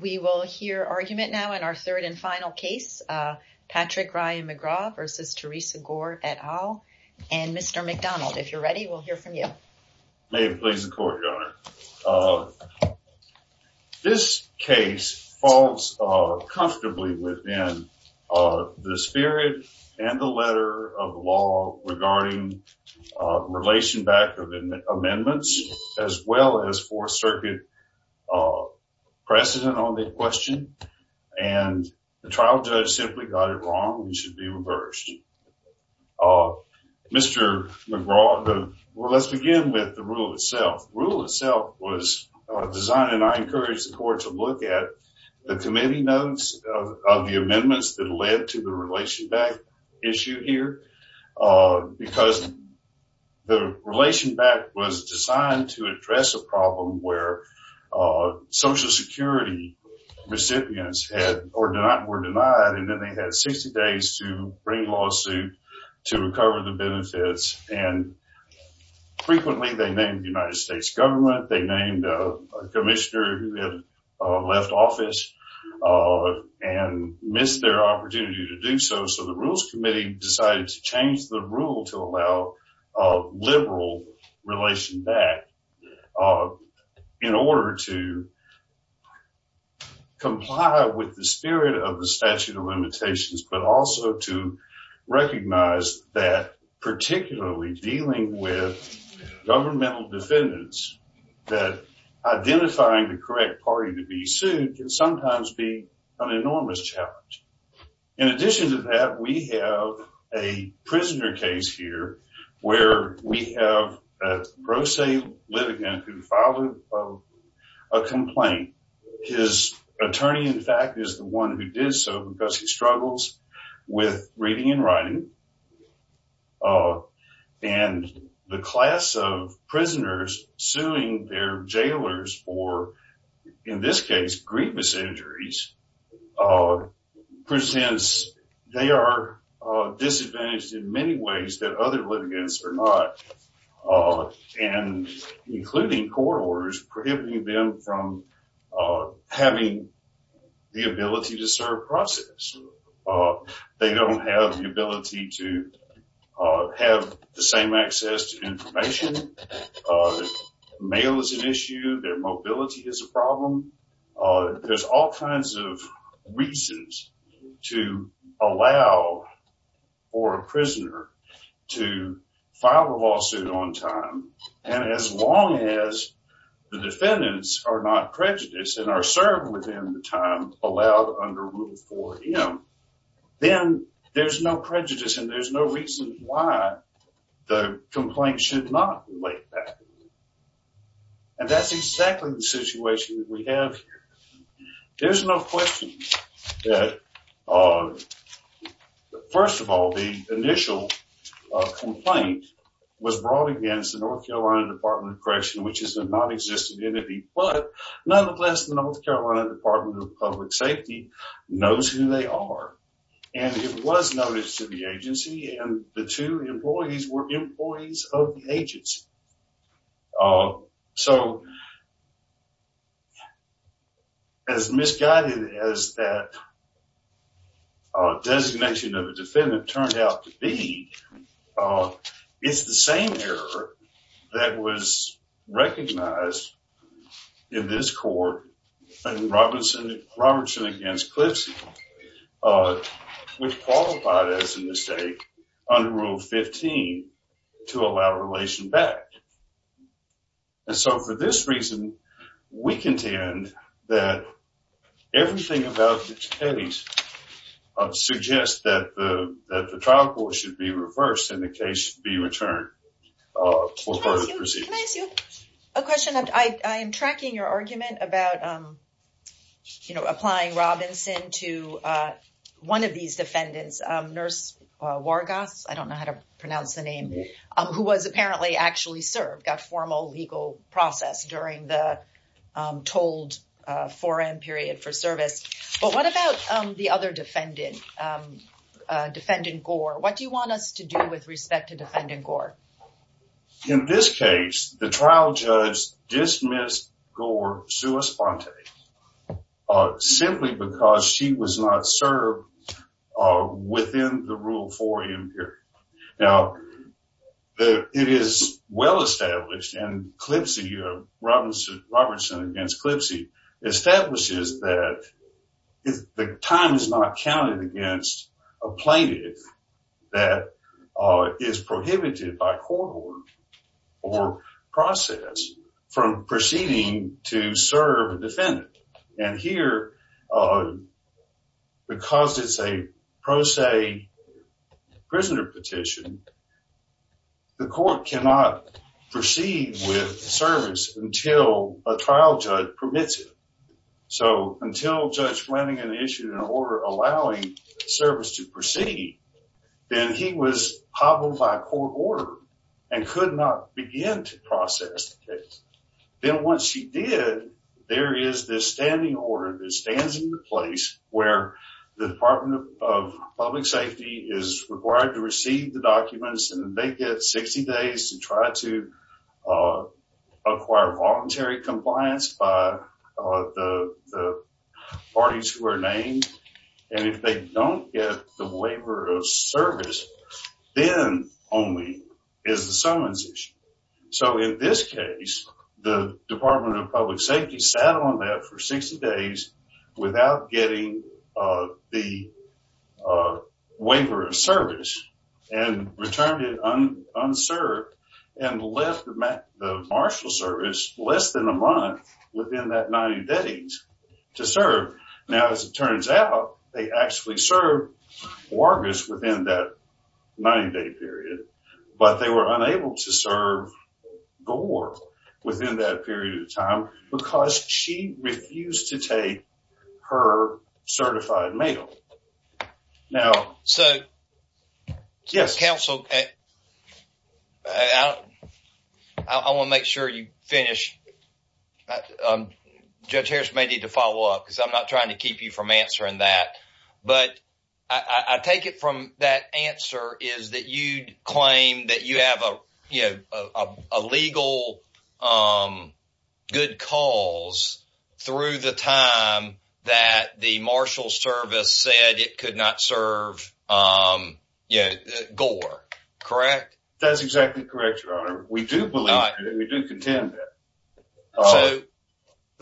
We will hear argument now in our third and final case. Patrick Ryan McGraw versus Theresa Gore et al. And Mr. McDonald, if you're ready, we'll hear from you. May it please the Court, Your Honor. This case falls comfortably within the spirit and the letter of law regarding relation-backed amendments, as well as Fourth Circuit precedent on the question. And the trial judge simply got it wrong and should be reversed. Mr. McGraw, let's begin with the rule itself. Rule itself was designed, and I encourage the Court to look at, the committee notes of the amendments that led to the relation-backed issue here. Because the relation-backed was designed to address a problem where Social Security recipients were denied, and then they had 60 days to bring lawsuit to recover the benefits. And frequently they named the United States government, they named a commissioner who had left office and missed their opportunity to do so. So the Rules Committee decided to change the rule to allow a liberal relation-backed in order to comply with the spirit of the statute of limitations, but also to recognize that particularly dealing with governmental defendants, that identifying the correct party to be sued can sometimes be an enormous challenge. In addition to that, we have a prisoner case here where we have a pro se litigant who filed a complaint. His attorney, in fact, is the one who did so because he struggles with reading and writing. And the class of prisoners suing their jailers for, in this case, grievous injuries, presents, they are disadvantaged in many ways that other litigants are not. And including court orders prohibiting them from having the ability to serve process. They don't have the ability to have the same access to information. Mail is an issue. Their file a lawsuit on time and as long as the defendants are not prejudiced and are served within the time allowed under Rule 4M, then there's no prejudice and there's no reason why the complaint should not be laid back. And that's exactly the situation that we have here. There's no question that, first of all, the initial complaint was brought against the North Carolina Department of Corrections, which is a non-existent entity. But nonetheless, the North Carolina Department of Public Safety knows who they are. And it was noticed to the As misguided as that designation of a defendant turned out to be, it's the same error that was recognized in this court in Robertson against Clifson, which qualified as a mistake under Rule 15 to allow relation back. And so for this reason, we contend that everything about the case suggests that the trial court should be reversed and the case be returned for further proceedings. Can I ask you a question? I am tracking your argument about applying Robinson to one of these defendants, Nurse Wargas, I don't know how to pronounce the name, who was apparently actually served, got formal legal process during the told 4M period for service. But what about the other defendant, Defendant Gore? What do you want us to do with respect to Defendant Gore? In this case, the trial judge dismissed Gore sua sponte simply because she was not served within the Rule 4M period. Now, it is well established and Robinson against Clifson establishes that the time is not counted against a plaintiff that is prohibited by court order or process from proceeding to serve a defendant. And here, because it's a pro se prisoner petition, the court cannot proceed with service until a trial judge permits it. So until Judge Flanagan issued an order allowing service to proceed, then he was hobbled by court order and could not begin to process the case. Then once he did, there is this standing order that stands in the place where the Department of Public Safety is required to receive the documents and they get 60 days to try to acquire voluntary compliance by the parties who are named. And if they don't get the waiver of service, then only is the summons issue. So in this case, the Department of Public Safety sat on that for 60 days without getting the waiver of service and returned it unserved and left the marshal service less than a month within that 90 days to serve. Now, as it turns out, they actually serve workers within that 90 day period, but they were unable to serve Gore within that period of time because she refused to take her certified mail. Now, so yes, counsel, I want to make sure you finish. Judge Harris may need to follow up because I'm not trying to keep you from answering that, but I take it from that answer is that you'd claim that you have a legal good cause through the time that the marshal service said it could not serve Gore. Correct? That's exactly correct, Your Honor. We do believe that. We do contend that.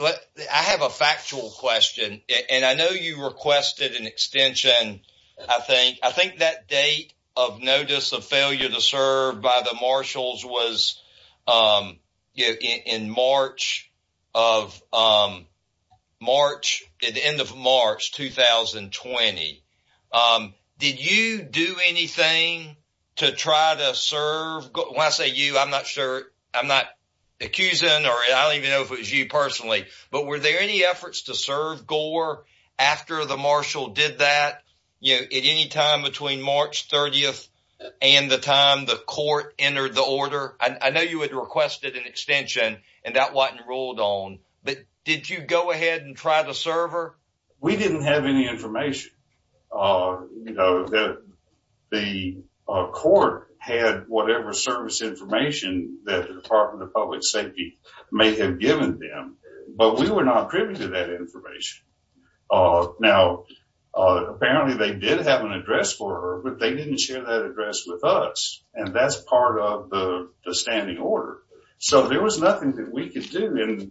I have a factual question, and I know you requested an extension. I think that date of notice of failure to serve by the marshals was in March of 2020. Did you do anything to try to serve Gore? When I say you, I'm not sure. I'm not accusing or I don't even know if it was you personally, but were there any efforts to serve Gore after the marshal did that at any time between March 30th and the time the court entered the order? I know you had requested an extension, and that wasn't ruled on, but did you go ahead and try to serve her? We didn't have any information. The court had whatever service information that the Department of Public Safety may have given them, but we were not privy to that information. Now, apparently they did have an address for her, but they didn't share that address with us, and that's part of the standing order, so there was nothing that we could do, and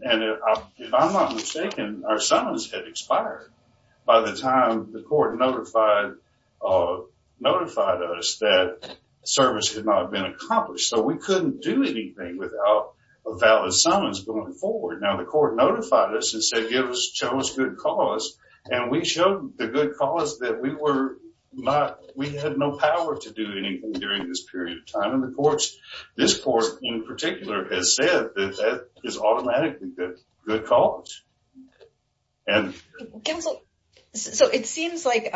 if I'm not by the time the court notified us that service had not been accomplished, so we couldn't do anything without a valid summons going forward. Now, the court notified us and said show us good cause, and we showed the good cause that we had no power to do anything during this period of time, this court in particular has said that that is automatically good cause. So, it seems like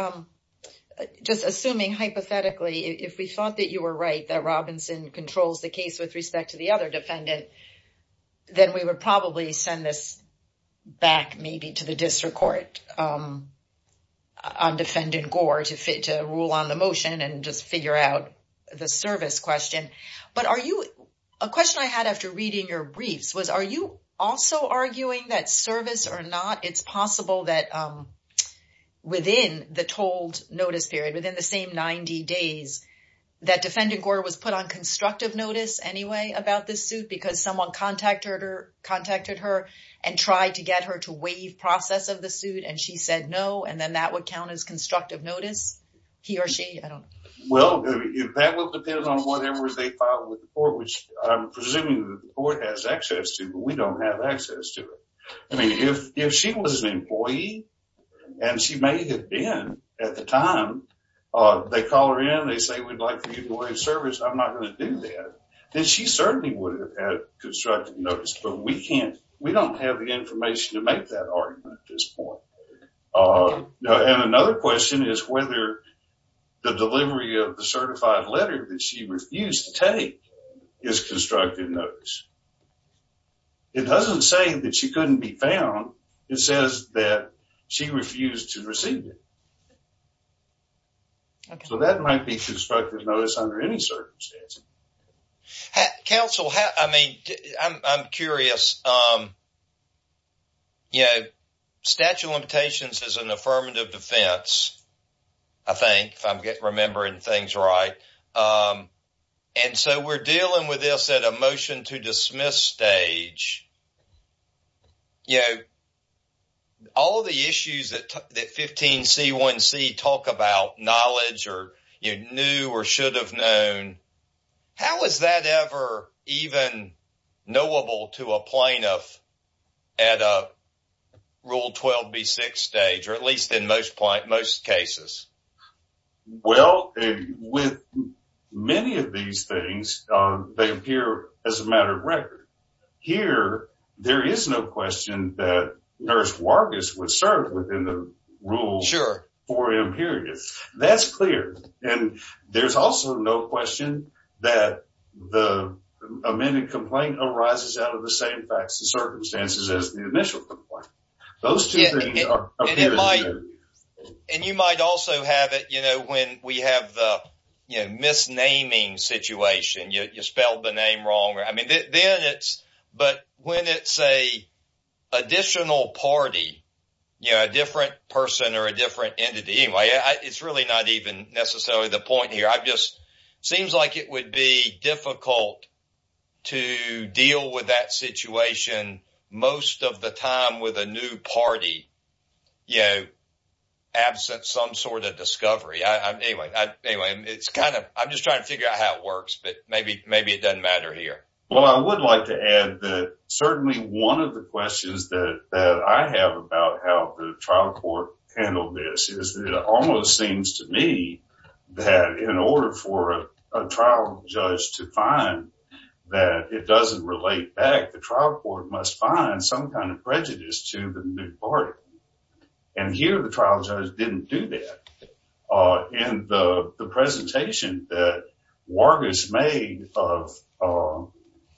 just assuming hypothetically if we thought that you were right that Robinson controls the case with respect to the other defendant, then we would probably send this back maybe to the district court on defendant Gore to fit to rule on the motion and just figure out the service question, but a question I had after reading your briefs was are you also arguing that service or not? It's possible that within the told notice period, within the same 90 days that defendant Gore was put on constructive notice anyway about this suit because someone contacted her and tried to get her to waive process of the suit, and she said no, and then that would count as constructive notice, he or she, I don't know. Well, that would depend on whatever they filed with the court, which I'm presuming the court has access to, but we don't have access to it. I mean, if she was an employee, and she may have been at the time, they call her in, they say we'd like to use the waive service, I'm not going to do that, then she certainly would have had constructive notice, but we don't have the And another question is whether the delivery of the certified letter that she refused to take is constructive notice. It doesn't say that she couldn't be found, it says that she refused to receive it. So that might be constructive notice under any circumstance. Counsel, I mean, I'm defense, I think, if I'm remembering things right. And so we're dealing with this at a motion to dismiss stage. You know, all the issues that 15C1C talk about knowledge or you knew or should have known. How is that ever even knowable to a plaintiff at a Rule 12B6 stage, or at least in most cases? Well, with many of these things, they appear as a matter of record. Here, there is no question that Nurse Wargus would serve within the rules for imperious. That's clear. And there's also no question that the amended complaint arises out of the same facts and circumstances as the initial complaint. Those two things are. And you might also have it, you know, when we have the, you know, misnaming situation, you spelled the name wrong. I mean, then it's, but when it's a additional party, you know, a different person or a different entity, anyway, it's really not even necessarily the point here. I've just seems like it would be difficult to deal with that situation. Most of the time with a new party, you know, absent some sort of discovery. Anyway, it's kind of I'm just trying to figure out how it works, but maybe maybe it doesn't matter here. Well, I would like to add that certainly one of the seems to me that in order for a trial judge to find that it doesn't relate back, the trial court must find some kind of prejudice to the new party. And here, the trial judge didn't do that. And the presentation that Wargus made of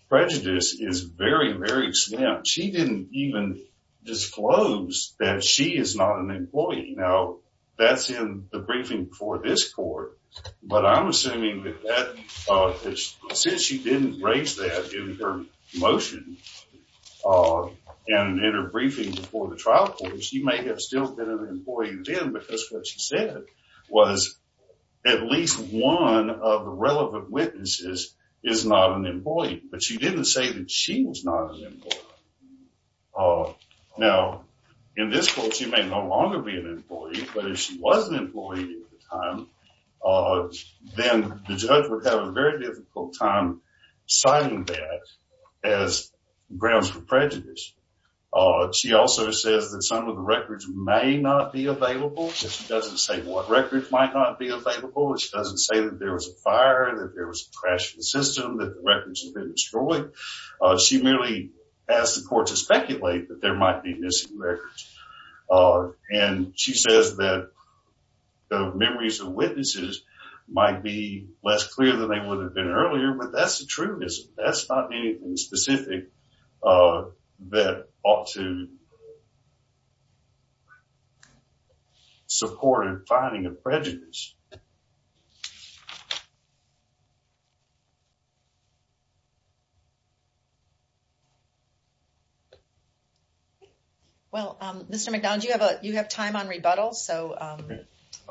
prejudice is very, very slim. She didn't even disclose that she is not an employee. Now, that's in the briefing for this court. But I'm assuming that since she didn't raise that in her motion, and in her briefing before the trial court, she may have still been an employee then because what she said was at least one of the relevant witnesses is not an employee. But she didn't say that she was not an employee. Now, in this court, she may no longer be an employee. But if she was an employee at the time, then the judge would have a very difficult time citing that as grounds for prejudice. She also says that some of the records may not be available. She doesn't say what records might not be available. She doesn't say that there was a fire, that there had been destroyed. She merely asked the court to speculate that there might be missing records. And she says that the memories of witnesses might be less clear than they would have been earlier. But that's the truth. That's not anything specific that ought to support in finding a prejudice. Well, Mr. McDonald, you have time on rebuttal. So I'd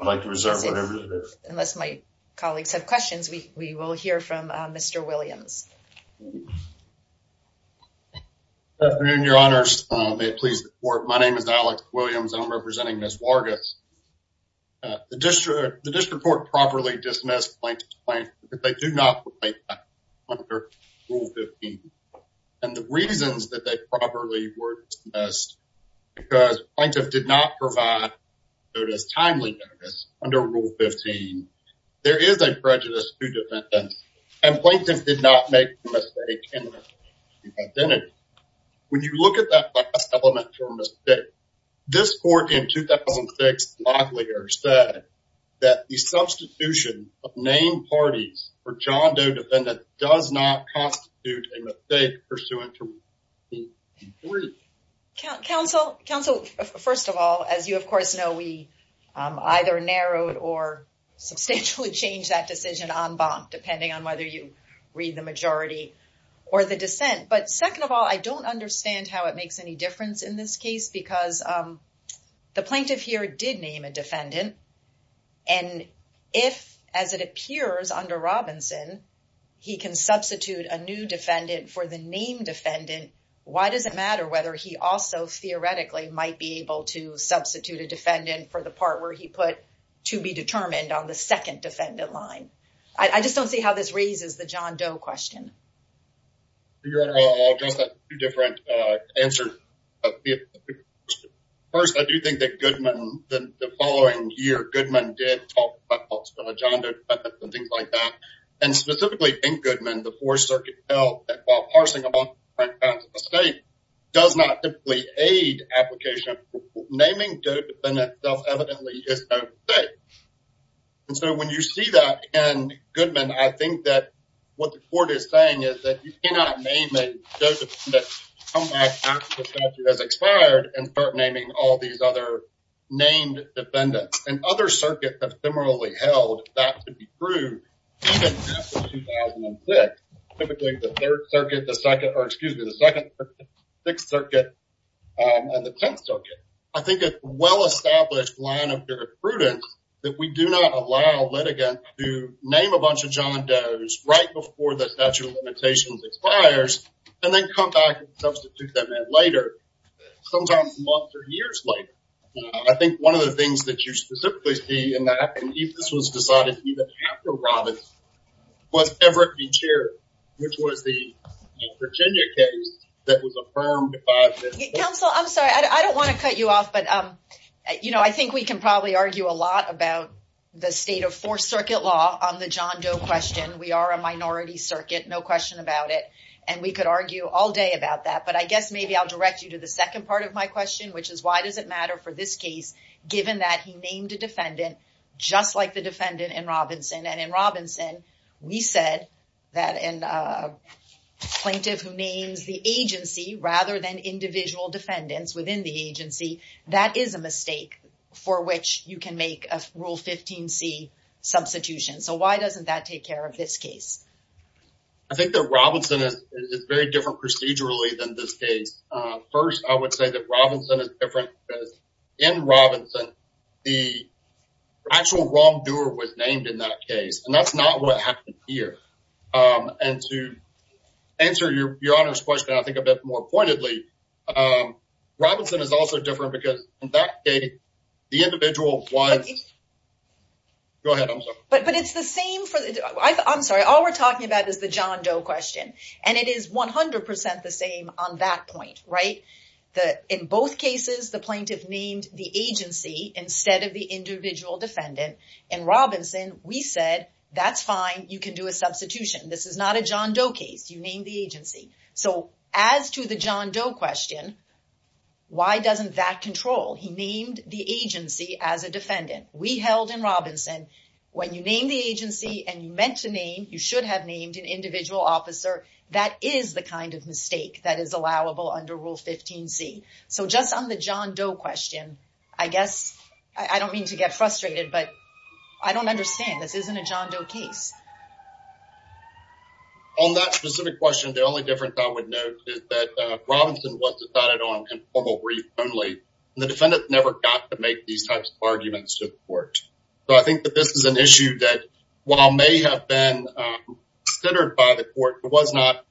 like to reserve whatever it is. Unless my colleagues have questions, we will hear from Mr. Williams. Good afternoon, your honors. May it please the court. My name is Alec Williams, and I'm representing Ms. Vargas. The district court properly dismissed Plaintiff's Plaintiff because they do not provide that under Rule 15. And the reasons that they properly were dismissed because Plaintiff did not provide notice, timely notice, under Rule 15. There is a prejudice to defendants, and Plaintiff did not make the mistake in her identity. When you look at that last This court in 2006 said that the substitution of named parties for John Doe defendants does not constitute a mistake pursuant to Rule 15. Counsel, first of all, as you of course know, we either narrowed or substantially changed that decision en banc, depending on whether you read the majority or the dissent. But second of all, I don't understand how it makes any case because the plaintiff here did name a defendant. And if, as it appears under Robinson, he can substitute a new defendant for the named defendant, why does it matter whether he also theoretically might be able to substitute a defendant for the part where he put to be determined on the second defendant line? I just don't see how this raises the John Doe question. Your Honor, I'll address that in two different answers. First, I do think that Goodman, the following year, Goodman did talk about the John Doe defendant and things like that. And specifically in Goodman, the Fourth Circuit held that while parsing a law in front of a state does not typically aid application, naming a defendant self-evidently is not safe. And so when you see that in Goodman, I think that what the court is saying is that you cannot name a Joe defendant, come back after the statute has expired and start naming all these other named defendants. And other circuits have similarly held that to be true even after 2006, typically the Third Circuit, the Second, or excuse me, the Second, Sixth Circuit, and the Tenth Circuit. I think a well-established line of prudence that we do not allow litigants to name a bunch of John Does right before the statute of limitations expires and then come back and substitute them in later, sometimes months or years later. I think one of the things that you specifically see in that, and this was decided even after Robbins, was Everett v. Cherry, which was the Virginia case that was affirmed by... Counsel, I'm sorry. I don't want to cut you off, but I think we can probably argue a lot about the state of Fourth Circuit law on the John Doe question. We are a minority circuit, no question about it. And we could argue all day about that. But I guess maybe I'll direct you to the second part of my question, which is why does it matter for this case, given that he is a plaintiff who names the agency rather than individual defendants within the agency, that is a mistake for which you can make a Rule 15c substitution. So why doesn't that take care of this case? I think that Robinson is very different procedurally than this case. First, I would say that Robinson is different because in Robinson, the actual wrongdoer was named in that case, and that's not what happened here. And to answer your Honor's question, I think, a bit more pointedly, Robinson is also different because in that case, the individual was... Go ahead. I'm sorry. But it's the same for... I'm sorry. All we're talking about is the John Doe question, and it is 100% the same on that point, right? In both cases, the plaintiff named the agency instead of the individual defendant. In Robinson, we said, that's fine. You can do a substitution. This is not a John Doe case. You named the agency. So as to the John Doe question, why doesn't that control? He named the agency as a defendant. We held in Robinson, when you name the agency and you meant to name, you should have named an individual officer. That is the kind of mistake that is allowable under Rule 15C. So just on the John Doe question, I guess, I don't mean to get frustrated, but I don't understand. This isn't a John Doe case. On that specific question, the only difference I would note is that Robinson was decided on in formal brief only. The defendant never got to make these types of arguments to the court. So I think that this is an issue that, while may have been considered by the court, it was not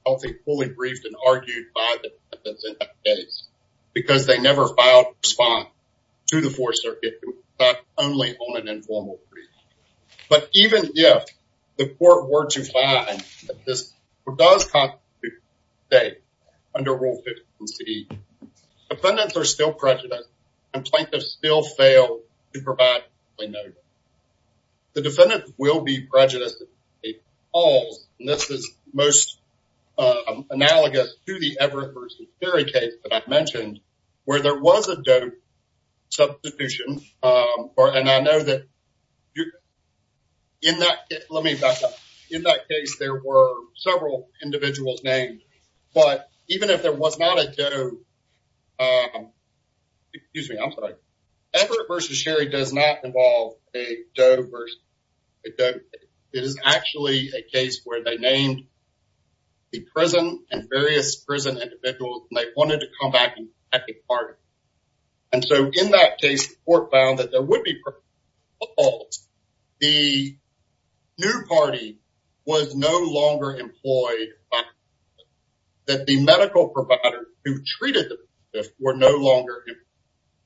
fully briefed and argued by the defendants in that case, because they never filed a response to the Fourth Circuit, but only on an informal brief. But even if the court were to find that this does constitute a mistake under Rule 15C, defendants are still prejudiced, and plaintiffs still fail to provide a note. The defendants will be prejudiced. And this is most analogous to the Everett versus Ferry case that I mentioned, where there was a Doe substitution. And I know that in that case, let me back up, in that case, there were several individuals named, but even if there was not a Doe, Everett versus Sherry does not involve a Doe versus a Doe. It is actually a case where they named the prison and various prison individuals, and they wanted to come back and protect the party. And so in that case, the court found that there would be problems. The new party was no longer employed. That the medical provider who treated them were no longer in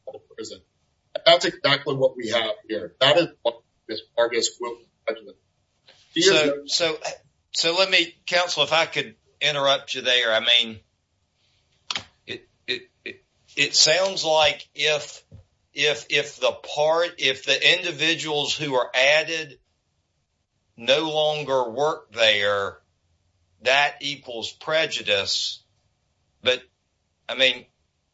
the prison. That's exactly what we have here. That is what this part is. So let me, counsel, if I could interrupt you there. I mean, it sounds like if the individuals who are added no longer work there, that equals prejudice. But I mean,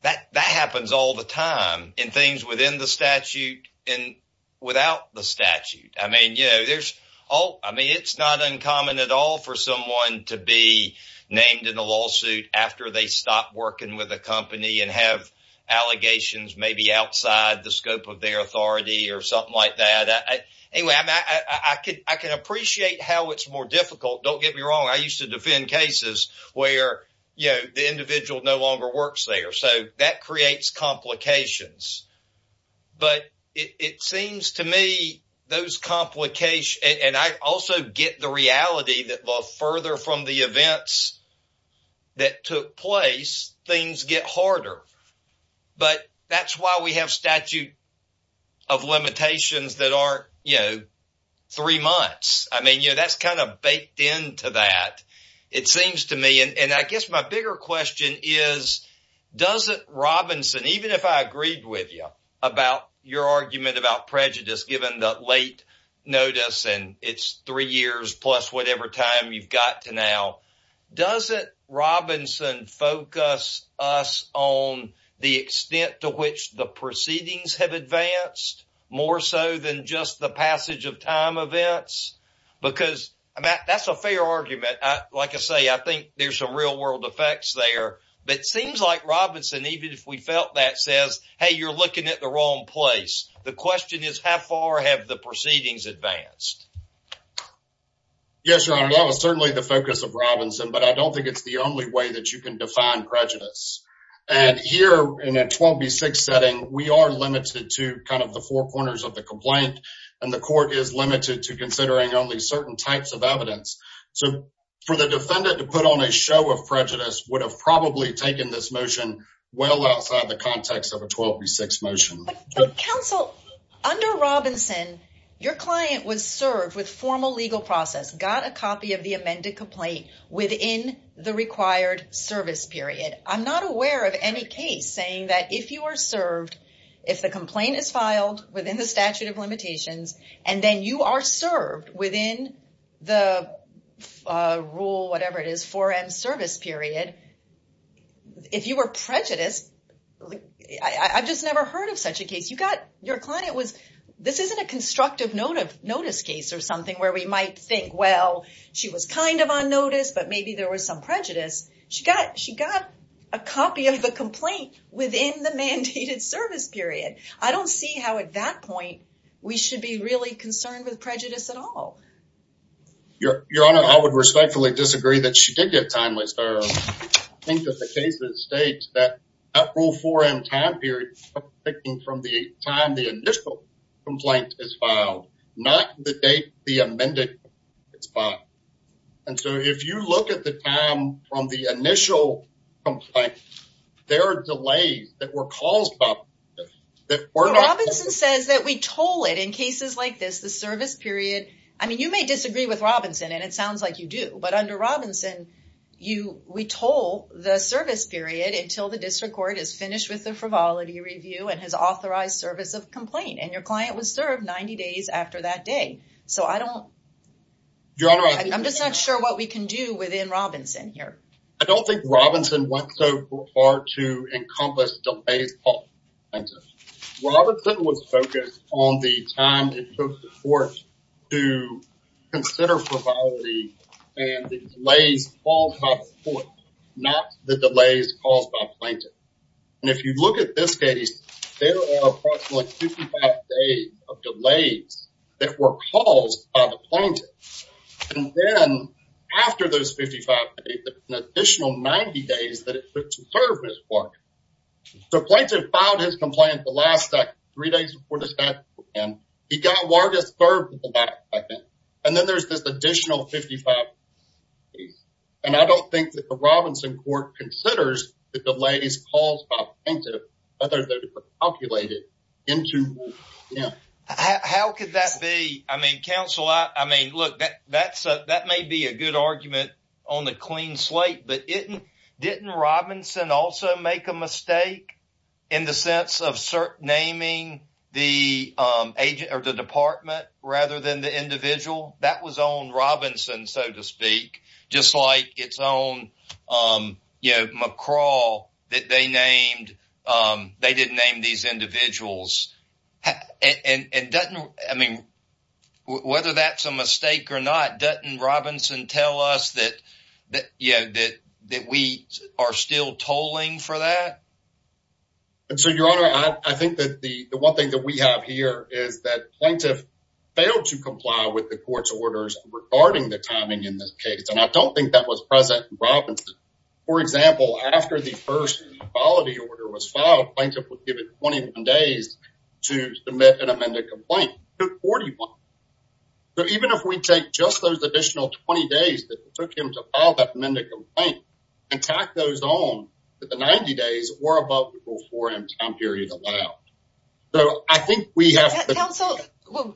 that happens all the time in things within the statute and without the statute. I mean, you know, there's all I mean, it's not uncommon at all for someone to be named in a lawsuit after they stop working with a company and have allegations maybe outside the scope of their authority or something like that. Anyway, I could I can appreciate how it's more difficult. Don't me wrong. I used to defend cases where, you know, the individual no longer works there. So that creates complications. But it seems to me those complications and I also get the reality that the further from the events that took place, things get harder. But that's why we have statute of limitations that are, you know, three months. I mean, you know, that's kind of baked into that. It seems to me and I guess my bigger question is, doesn't Robinson, even if I agreed with you about your argument about prejudice, given the late notice and it's three years plus whatever time you've got to now, doesn't Robinson focus us on the extent to which the proceedings have advanced more so than just the passage of time events? Because that's a fair argument. Like I say, I think there's some real world effects there. But it seems like Robinson, even if we felt that, says, hey, you're looking at the wrong place. The question is, how far have the proceedings advanced? Yes, your honor. That was certainly the focus of Robinson, but I don't think it's the only way that you can define prejudice. And here in a 12 v 6 setting, we are limited to kind of the four corners of the complaint and the court is limited to considering only certain types of evidence. So for the defendant to put on a show of prejudice would have probably taken this motion well outside the context of a 12 v 6 motion. But counsel, under Robinson, your client was formal legal process, got a copy of the amended complaint within the required service period. I'm not aware of any case saying that if you are served, if the complaint is filed within the statute of limitations, and then you are served within the rule, whatever it is, 4M service period, if you were prejudiced, I've just never heard of such a case. Your client was, this isn't a constructive notice case or something where we might think, well, she was kind of on notice, but maybe there was some prejudice. She got a copy of the complaint within the mandated service period. I don't see how at that point we should be really concerned with prejudice at all. Your honor, I would respectfully disagree that she did get time I think that the case that states that rule 4M time period picking from the time the initial complaint is filed, not the date the amended is filed. And so if you look at the time from the initial complaint, there are delays that were caused by that. Well, Robinson says that we told it in cases like this, the service period. I mean, you may disagree with Robinson and it sounds like you do, but under Robinson, we told the service period until the district court is finished with the frivolity review and has authorized service of complaint. And your client was served 90 days after that day. So I don't, I'm just not sure what we can do within Robinson here. I don't think Robinson went so far to encompass delays. Robinson was focused on the time it took the court to consider frivolity and the delays called by the court, not the delays caused by plaintiff. And if you look at this case, there are approximately 55 days of delays that were caused by the plaintiff. And then after those 55 days, an additional 90 days that it took to serve his warrant. So plaintiff filed his complaint the last three days before the statute began. He got warranted to serve until that second. And then there's this additional 55 days. And I don't think that the Robinson court considers the delays caused by plaintiff, other than to calculate it into, yeah. How could that be? I mean, counsel, I mean, look, that may be a good argument on the clean slate, but didn't Robinson also make a mistake in the sense of naming the agent or the department rather than the individual? That was on Robinson, so to speak, just like its own, you know, McCraw that they named, they didn't name these individuals. And doesn't, I mean, whether that's a mistake or not, doesn't Robinson tell us that, yeah, that we are still tolling for that? And so your honor, I think that the one thing that we have here is that plaintiff failed to comply with the court's orders regarding the timing in this case. And I don't think that was present in Robinson. For example, after the first equality order was filed, plaintiff was given 21 days to submit an amended complaint. It took 41. So even if we take just those additional 20 days that it took him to file that amended complaint and tack those on to the 90 days or above the rule 4M time period allowed. So I think we have to- Counsel,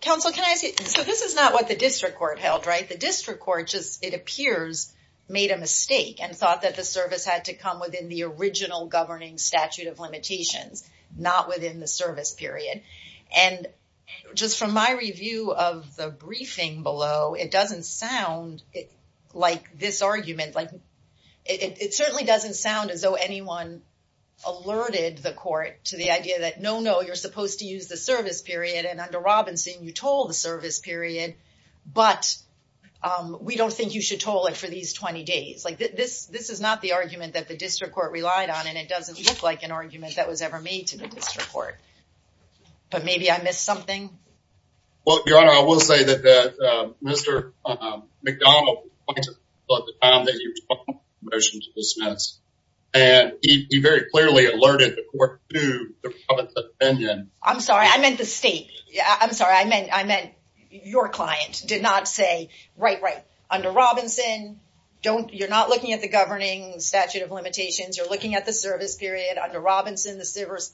counsel, can I say, so this is not what the district court held, right? The district court just, it appears, made a mistake and thought that the service had to come within the original governing statute of limitations, not within the service period. And just from my review of the briefing below, it doesn't sound like this argument, like it certainly doesn't sound as though anyone alerted the court to the idea that, no, no, you're supposed to use the period, but we don't think you should toll it for these 20 days. Like this, this is not the argument that the district court relied on. And it doesn't look like an argument that was ever made to the district court, but maybe I missed something. Well, your honor, I will say that, that Mr. McDonald at the time that you were talking about the motion to dismiss and he very clearly alerted the court to the public's opinion. I'm sorry. I meant the state. I'm your client did not say, right, right. Under Robinson, don't, you're not looking at the governing statute of limitations. You're looking at the service period under Robinson, the service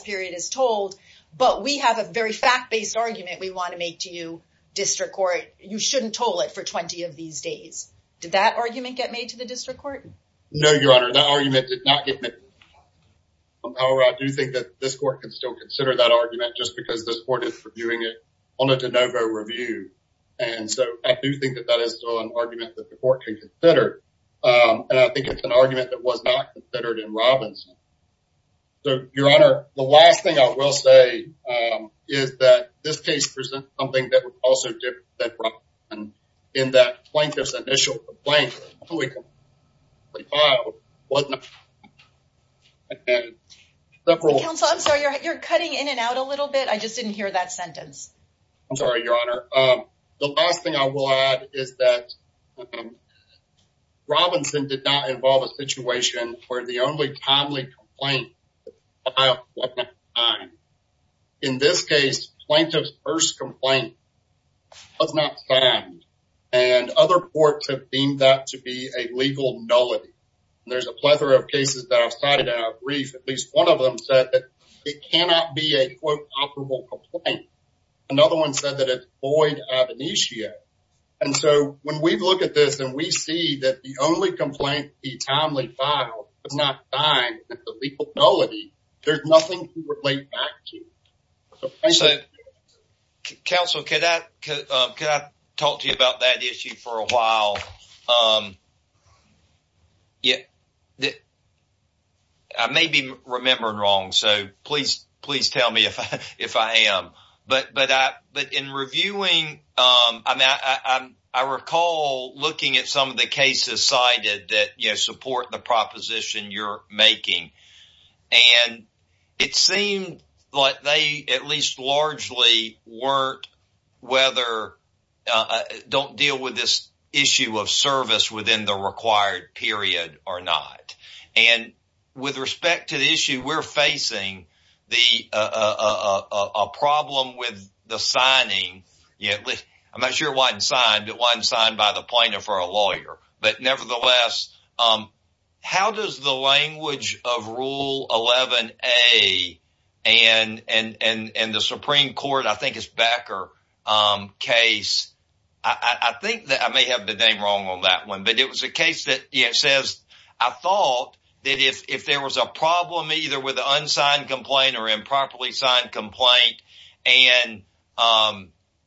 period is told, but we have a very fact-based argument we want to make to you district court. You shouldn't toll it for 20 of these days. Did that argument get made to the district court? No, your honor, that argument did not get made. However, I do think that this court can still that argument just because this court is reviewing it on a de novo review. And so I do think that that is still an argument that the court can consider. And I think it's an argument that was not considered in Robinson. So your honor, the last thing I will say is that this case presents something that was also different than Robinson in that plaintiff's initial complaint. Councilor, I'm sorry, you're cutting in and out a little bit. I just didn't hear that sentence. I'm sorry, your honor. The last thing I will add is that Robinson did not involve a situation where the only timely complaint was not signed. In this a legal nullity. There's a plethora of cases that I've cited in our brief. At least one of them said that it cannot be a quote operable complaint. Another one said that it's void ab initio. And so when we look at this and we see that the only complaint the timely file was not signed, that's a legal nullity, there's nothing to relate back to. So, council, could I talk to you about that issue for a while? I may be remembering wrong, so please tell me if I am. But in reviewing, I recall looking at some of the cases cited that support the proposition you're making. And it seemed like they at least largely weren't, whether, don't deal with this issue of service within the required period or not. And with respect to the issue, we're facing a problem with the signing. I'm not sure why it wasn't signed, but it wasn't signed by the plaintiff or a lawyer. But nevertheless, how does the language of Rule 11A and the Supreme Court, I think it's Becker case, I think that I may have been named wrong on that one, but it was a case that says, I thought that if there was a problem either with unsigned complaint or improperly signed, and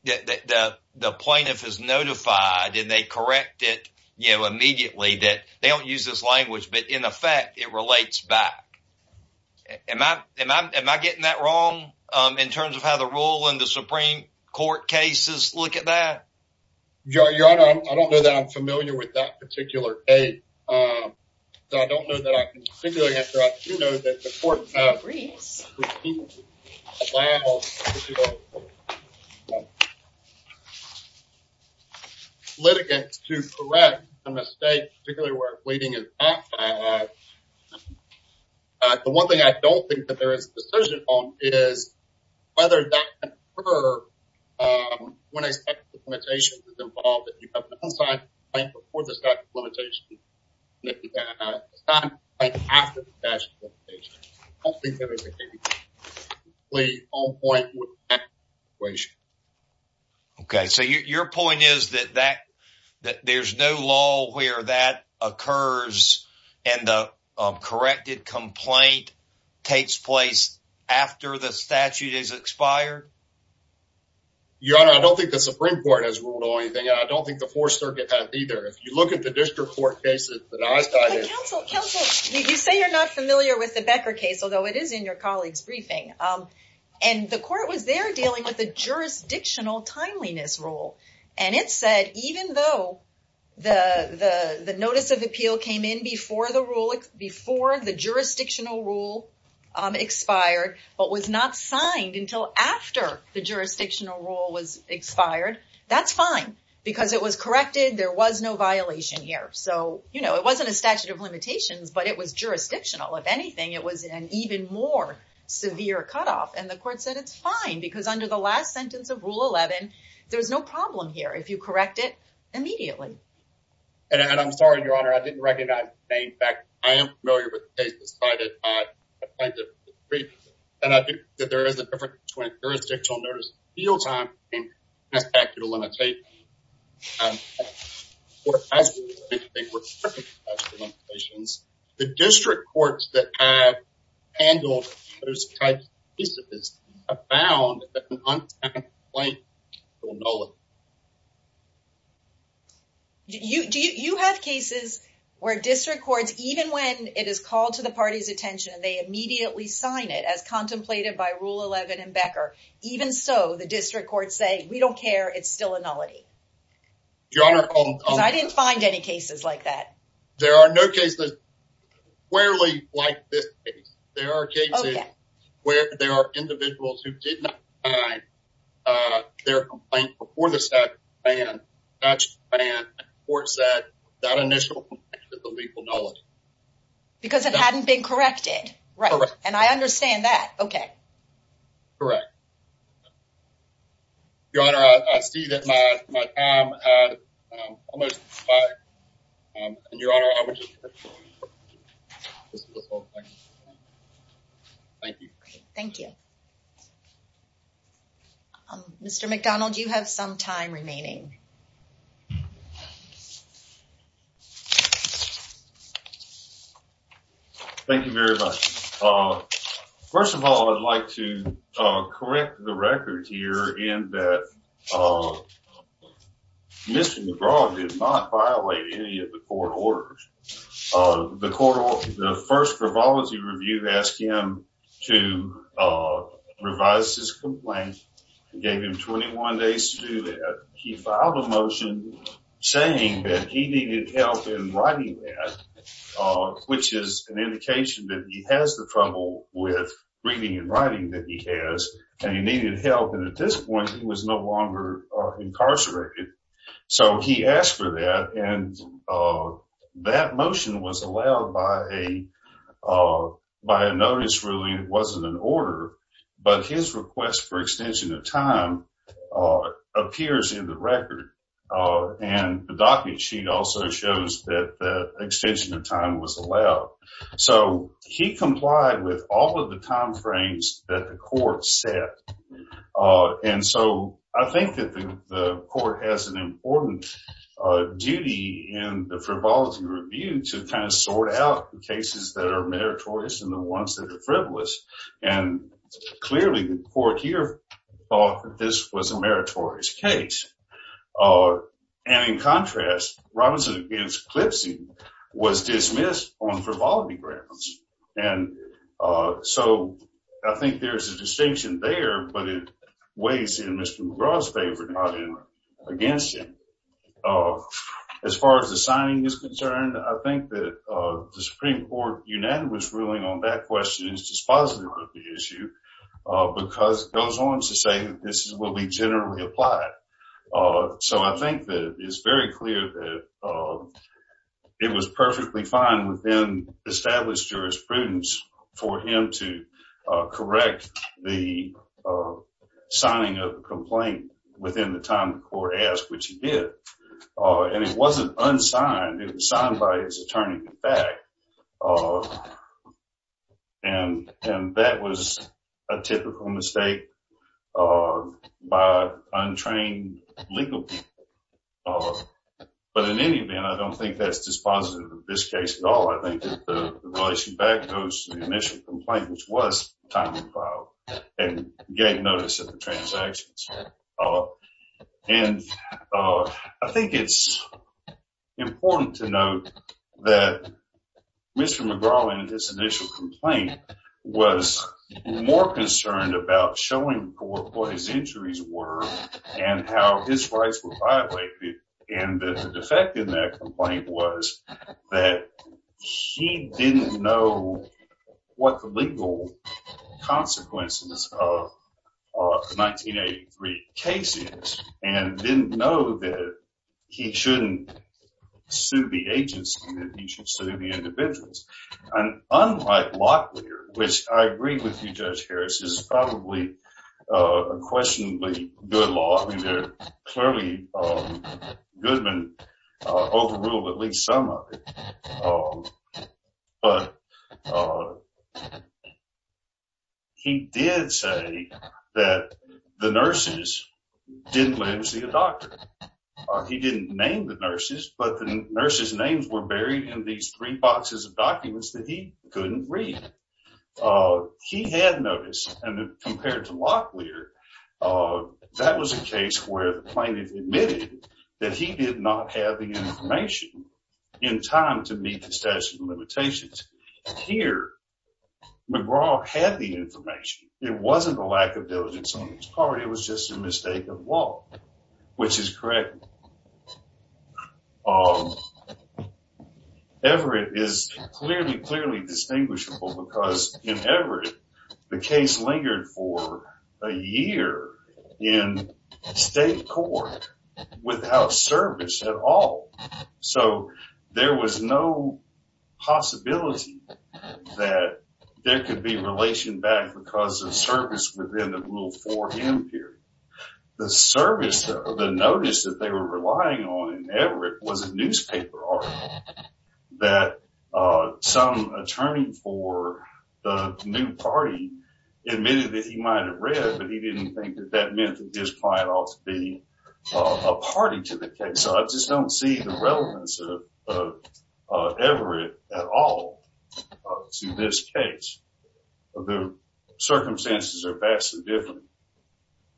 the plaintiff is notified and they correct it immediately that they don't use this language, but in effect, it relates back. Am I getting that wrong in terms of how the rule and the Supreme Court cases look at that? Your Honor, I don't know that I'm familiar with that particular case. So, I don't know that I can particularly answer that. I do know that the court litigates to correct a mistake, particularly where bleeding is asked at. The one thing I don't think that there is a decision on is whether that can occur when a statute of limitations is involved. If you have an unsigned complaint before the statute of limitations, it's not a complaint after the statute of limitations. I don't think there is a case that is completely on point with that situation. Okay, so your point is that there's no law where that occurs and the corrected complaint takes place after the statute is expired? Your Honor, I don't think the Supreme Court has ruled on anything, and I don't think the Fourth Circuit has either. If you look at the district court cases that I studied... Counsel, you say you're not familiar with the Becker case, although it is in your colleague's briefing, and the court was there dealing with a jurisdictional timeliness rule, and it said even though the notice of appeal came in before the jurisdictional rule expired, but was not signed until after the jurisdictional rule was expired, that's fine because it was corrected. There was no violation here, so it wasn't a statute of limitations, but it was jurisdictional. If anything, it was an even more severe cutoff, and the court said it's fine because under the last sentence of Rule 11, there's no problem here if you correct it immediately. And I'm sorry, Your Honor, I didn't recognize the name. In fact, I am familiar with the case, despite it not being a jurisdictional notice of appeal time, and it's a statute of limitations. The district courts that have handled those types of cases have found that an untimely complaint will nullify it. You have cases where district courts, even when it is called to the party's contemplated by Rule 11 and Becker, even so, the district courts say we don't care, it's still a nullity. Your Honor, I didn't find any cases like that. There are no cases squarely like this case. There are cases where there are individuals who did not sign their complaint before the statute was banned, and the court said that initial complaint is a legal nullity. Because it hadn't been corrected. Right. And I understand that. Okay. Correct. Your Honor, I see that my time has almost expired. And Your Honor, I would just like to thank you. Thank you. Mr. McDonald, you have some time remaining. Thank you very much. First of all, I'd like to correct the record here in that Mr. McGraw did not violate any of the court orders. The first tribology review asked him to revise his complaint and gave him 21 days to do that. He filed a motion saying that he needed help in writing that, which is an indication that he has the trouble with reading and writing that he has, and he needed help. And at this point, he was no longer incarcerated. So he asked for that, and that motion was allowed by a notice, really. It wasn't an order. But his request for extension of time appears in the record. And the document sheet also shows that the extension of time was allowed. So he complied with all of the timeframes that the court set. And so I think that the court has an important duty in the tribology review to kind of sort out the cases that are meritorious and the ones that are frivolous. And clearly, the court here thought that this was a meritorious case. And in contrast, Robinson against Clipsie was dismissed on tribology grounds. And so I think there's a distinction there, but it weighs in Mr. McGraw's favor, not against him. As far as the Supreme Court unanimous ruling on that question is dispositive of the issue, because it goes on to say that this will be generally applied. So I think that it's very clear that it was perfectly fine within established jurisprudence for him to correct the signing of the complaint within the time the court asked, which he did. And it wasn't unsigned, it was signed by his attorney in fact. And that was a typical mistake by untrained legal people. But in any event, I don't think that's dispositive of this case at all. I think that the relationship goes to the initial complaint, which was timely filed and gained notice of the that Mr. McGraw in his initial complaint was more concerned about showing what his injuries were and how his rights were violated. And the defect in that complaint was that he didn't know what the that he should sue the individuals. And unlike Locklear, which I agree with you, Judge Harris, is probably a questionably good law. I mean, clearly Goodman overruled at least some of it. But he did say that the nurses didn't live to see a doctor. He didn't name the nurses, but the nurses names were buried in these three boxes of documents that he couldn't read. He had noticed, and compared to Locklear, that was a case where the plaintiff admitted that he did not have the information in time to meet the statute of limitations. Here, McGraw had the information. It wasn't a lack of diligence on his part, it was just a mistake of law, which is correct. Everett is clearly, clearly distinguishable because in Everett, the case lingered for a year in state court without service at all. So there was no possibility that there could be relation back because of service within the Rule 4M period. The service, the notice that they were relying on in Everett was a newspaper article that some attorney for the new party admitted that he might have read, but he didn't think that that meant that his client ought to be a party to the case. So I just don't see the relevance of Everett at all to this case. The circumstances are vastly different.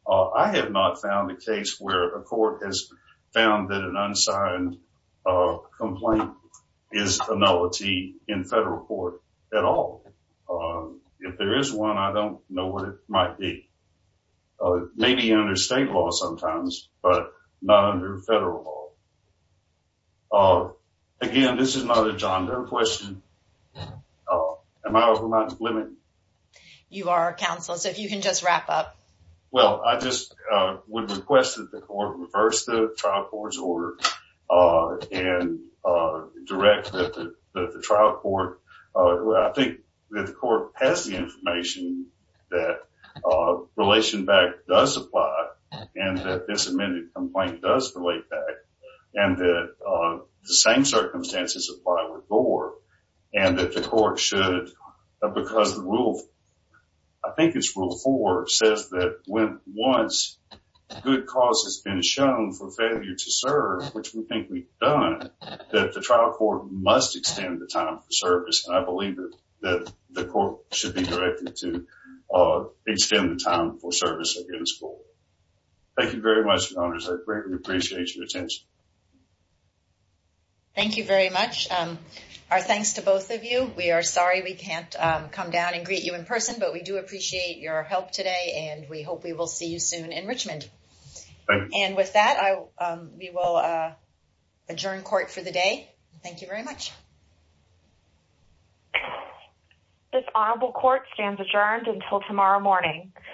I have not found a case where a court has found that an unsigned complaint is a nullity in federal court at all. If there is one, I don't know what it might be. Maybe under state law sometimes, but not under federal law. Again, this is not a John Doe question. Am I over my limit? You are, counsel, so if you can just wrap up. Well, I just would request that the court reverse the trial court's order and direct that the trial court, I think that the court has the information that relation back does apply and that this amended complaint does relate back and that the same circumstances apply with Gore and that the court should, because the rule, I think it's rule four, says that when once good cause has been shown for failure to serve, which we think we've done, that the trial court must extend the time for service. And I believe that the court should be directed to extend the time for service against Gore. Thank you very much, your honors. I greatly appreciate your attention. Thank you very much. Our thanks to both of you. We are sorry we can't come down and greet you in person, but we do appreciate your help today and we hope we will see you soon in Richmond. And with that, we will adjourn court for the day. Thank you very much. This honorable court stands adjourned until tomorrow morning.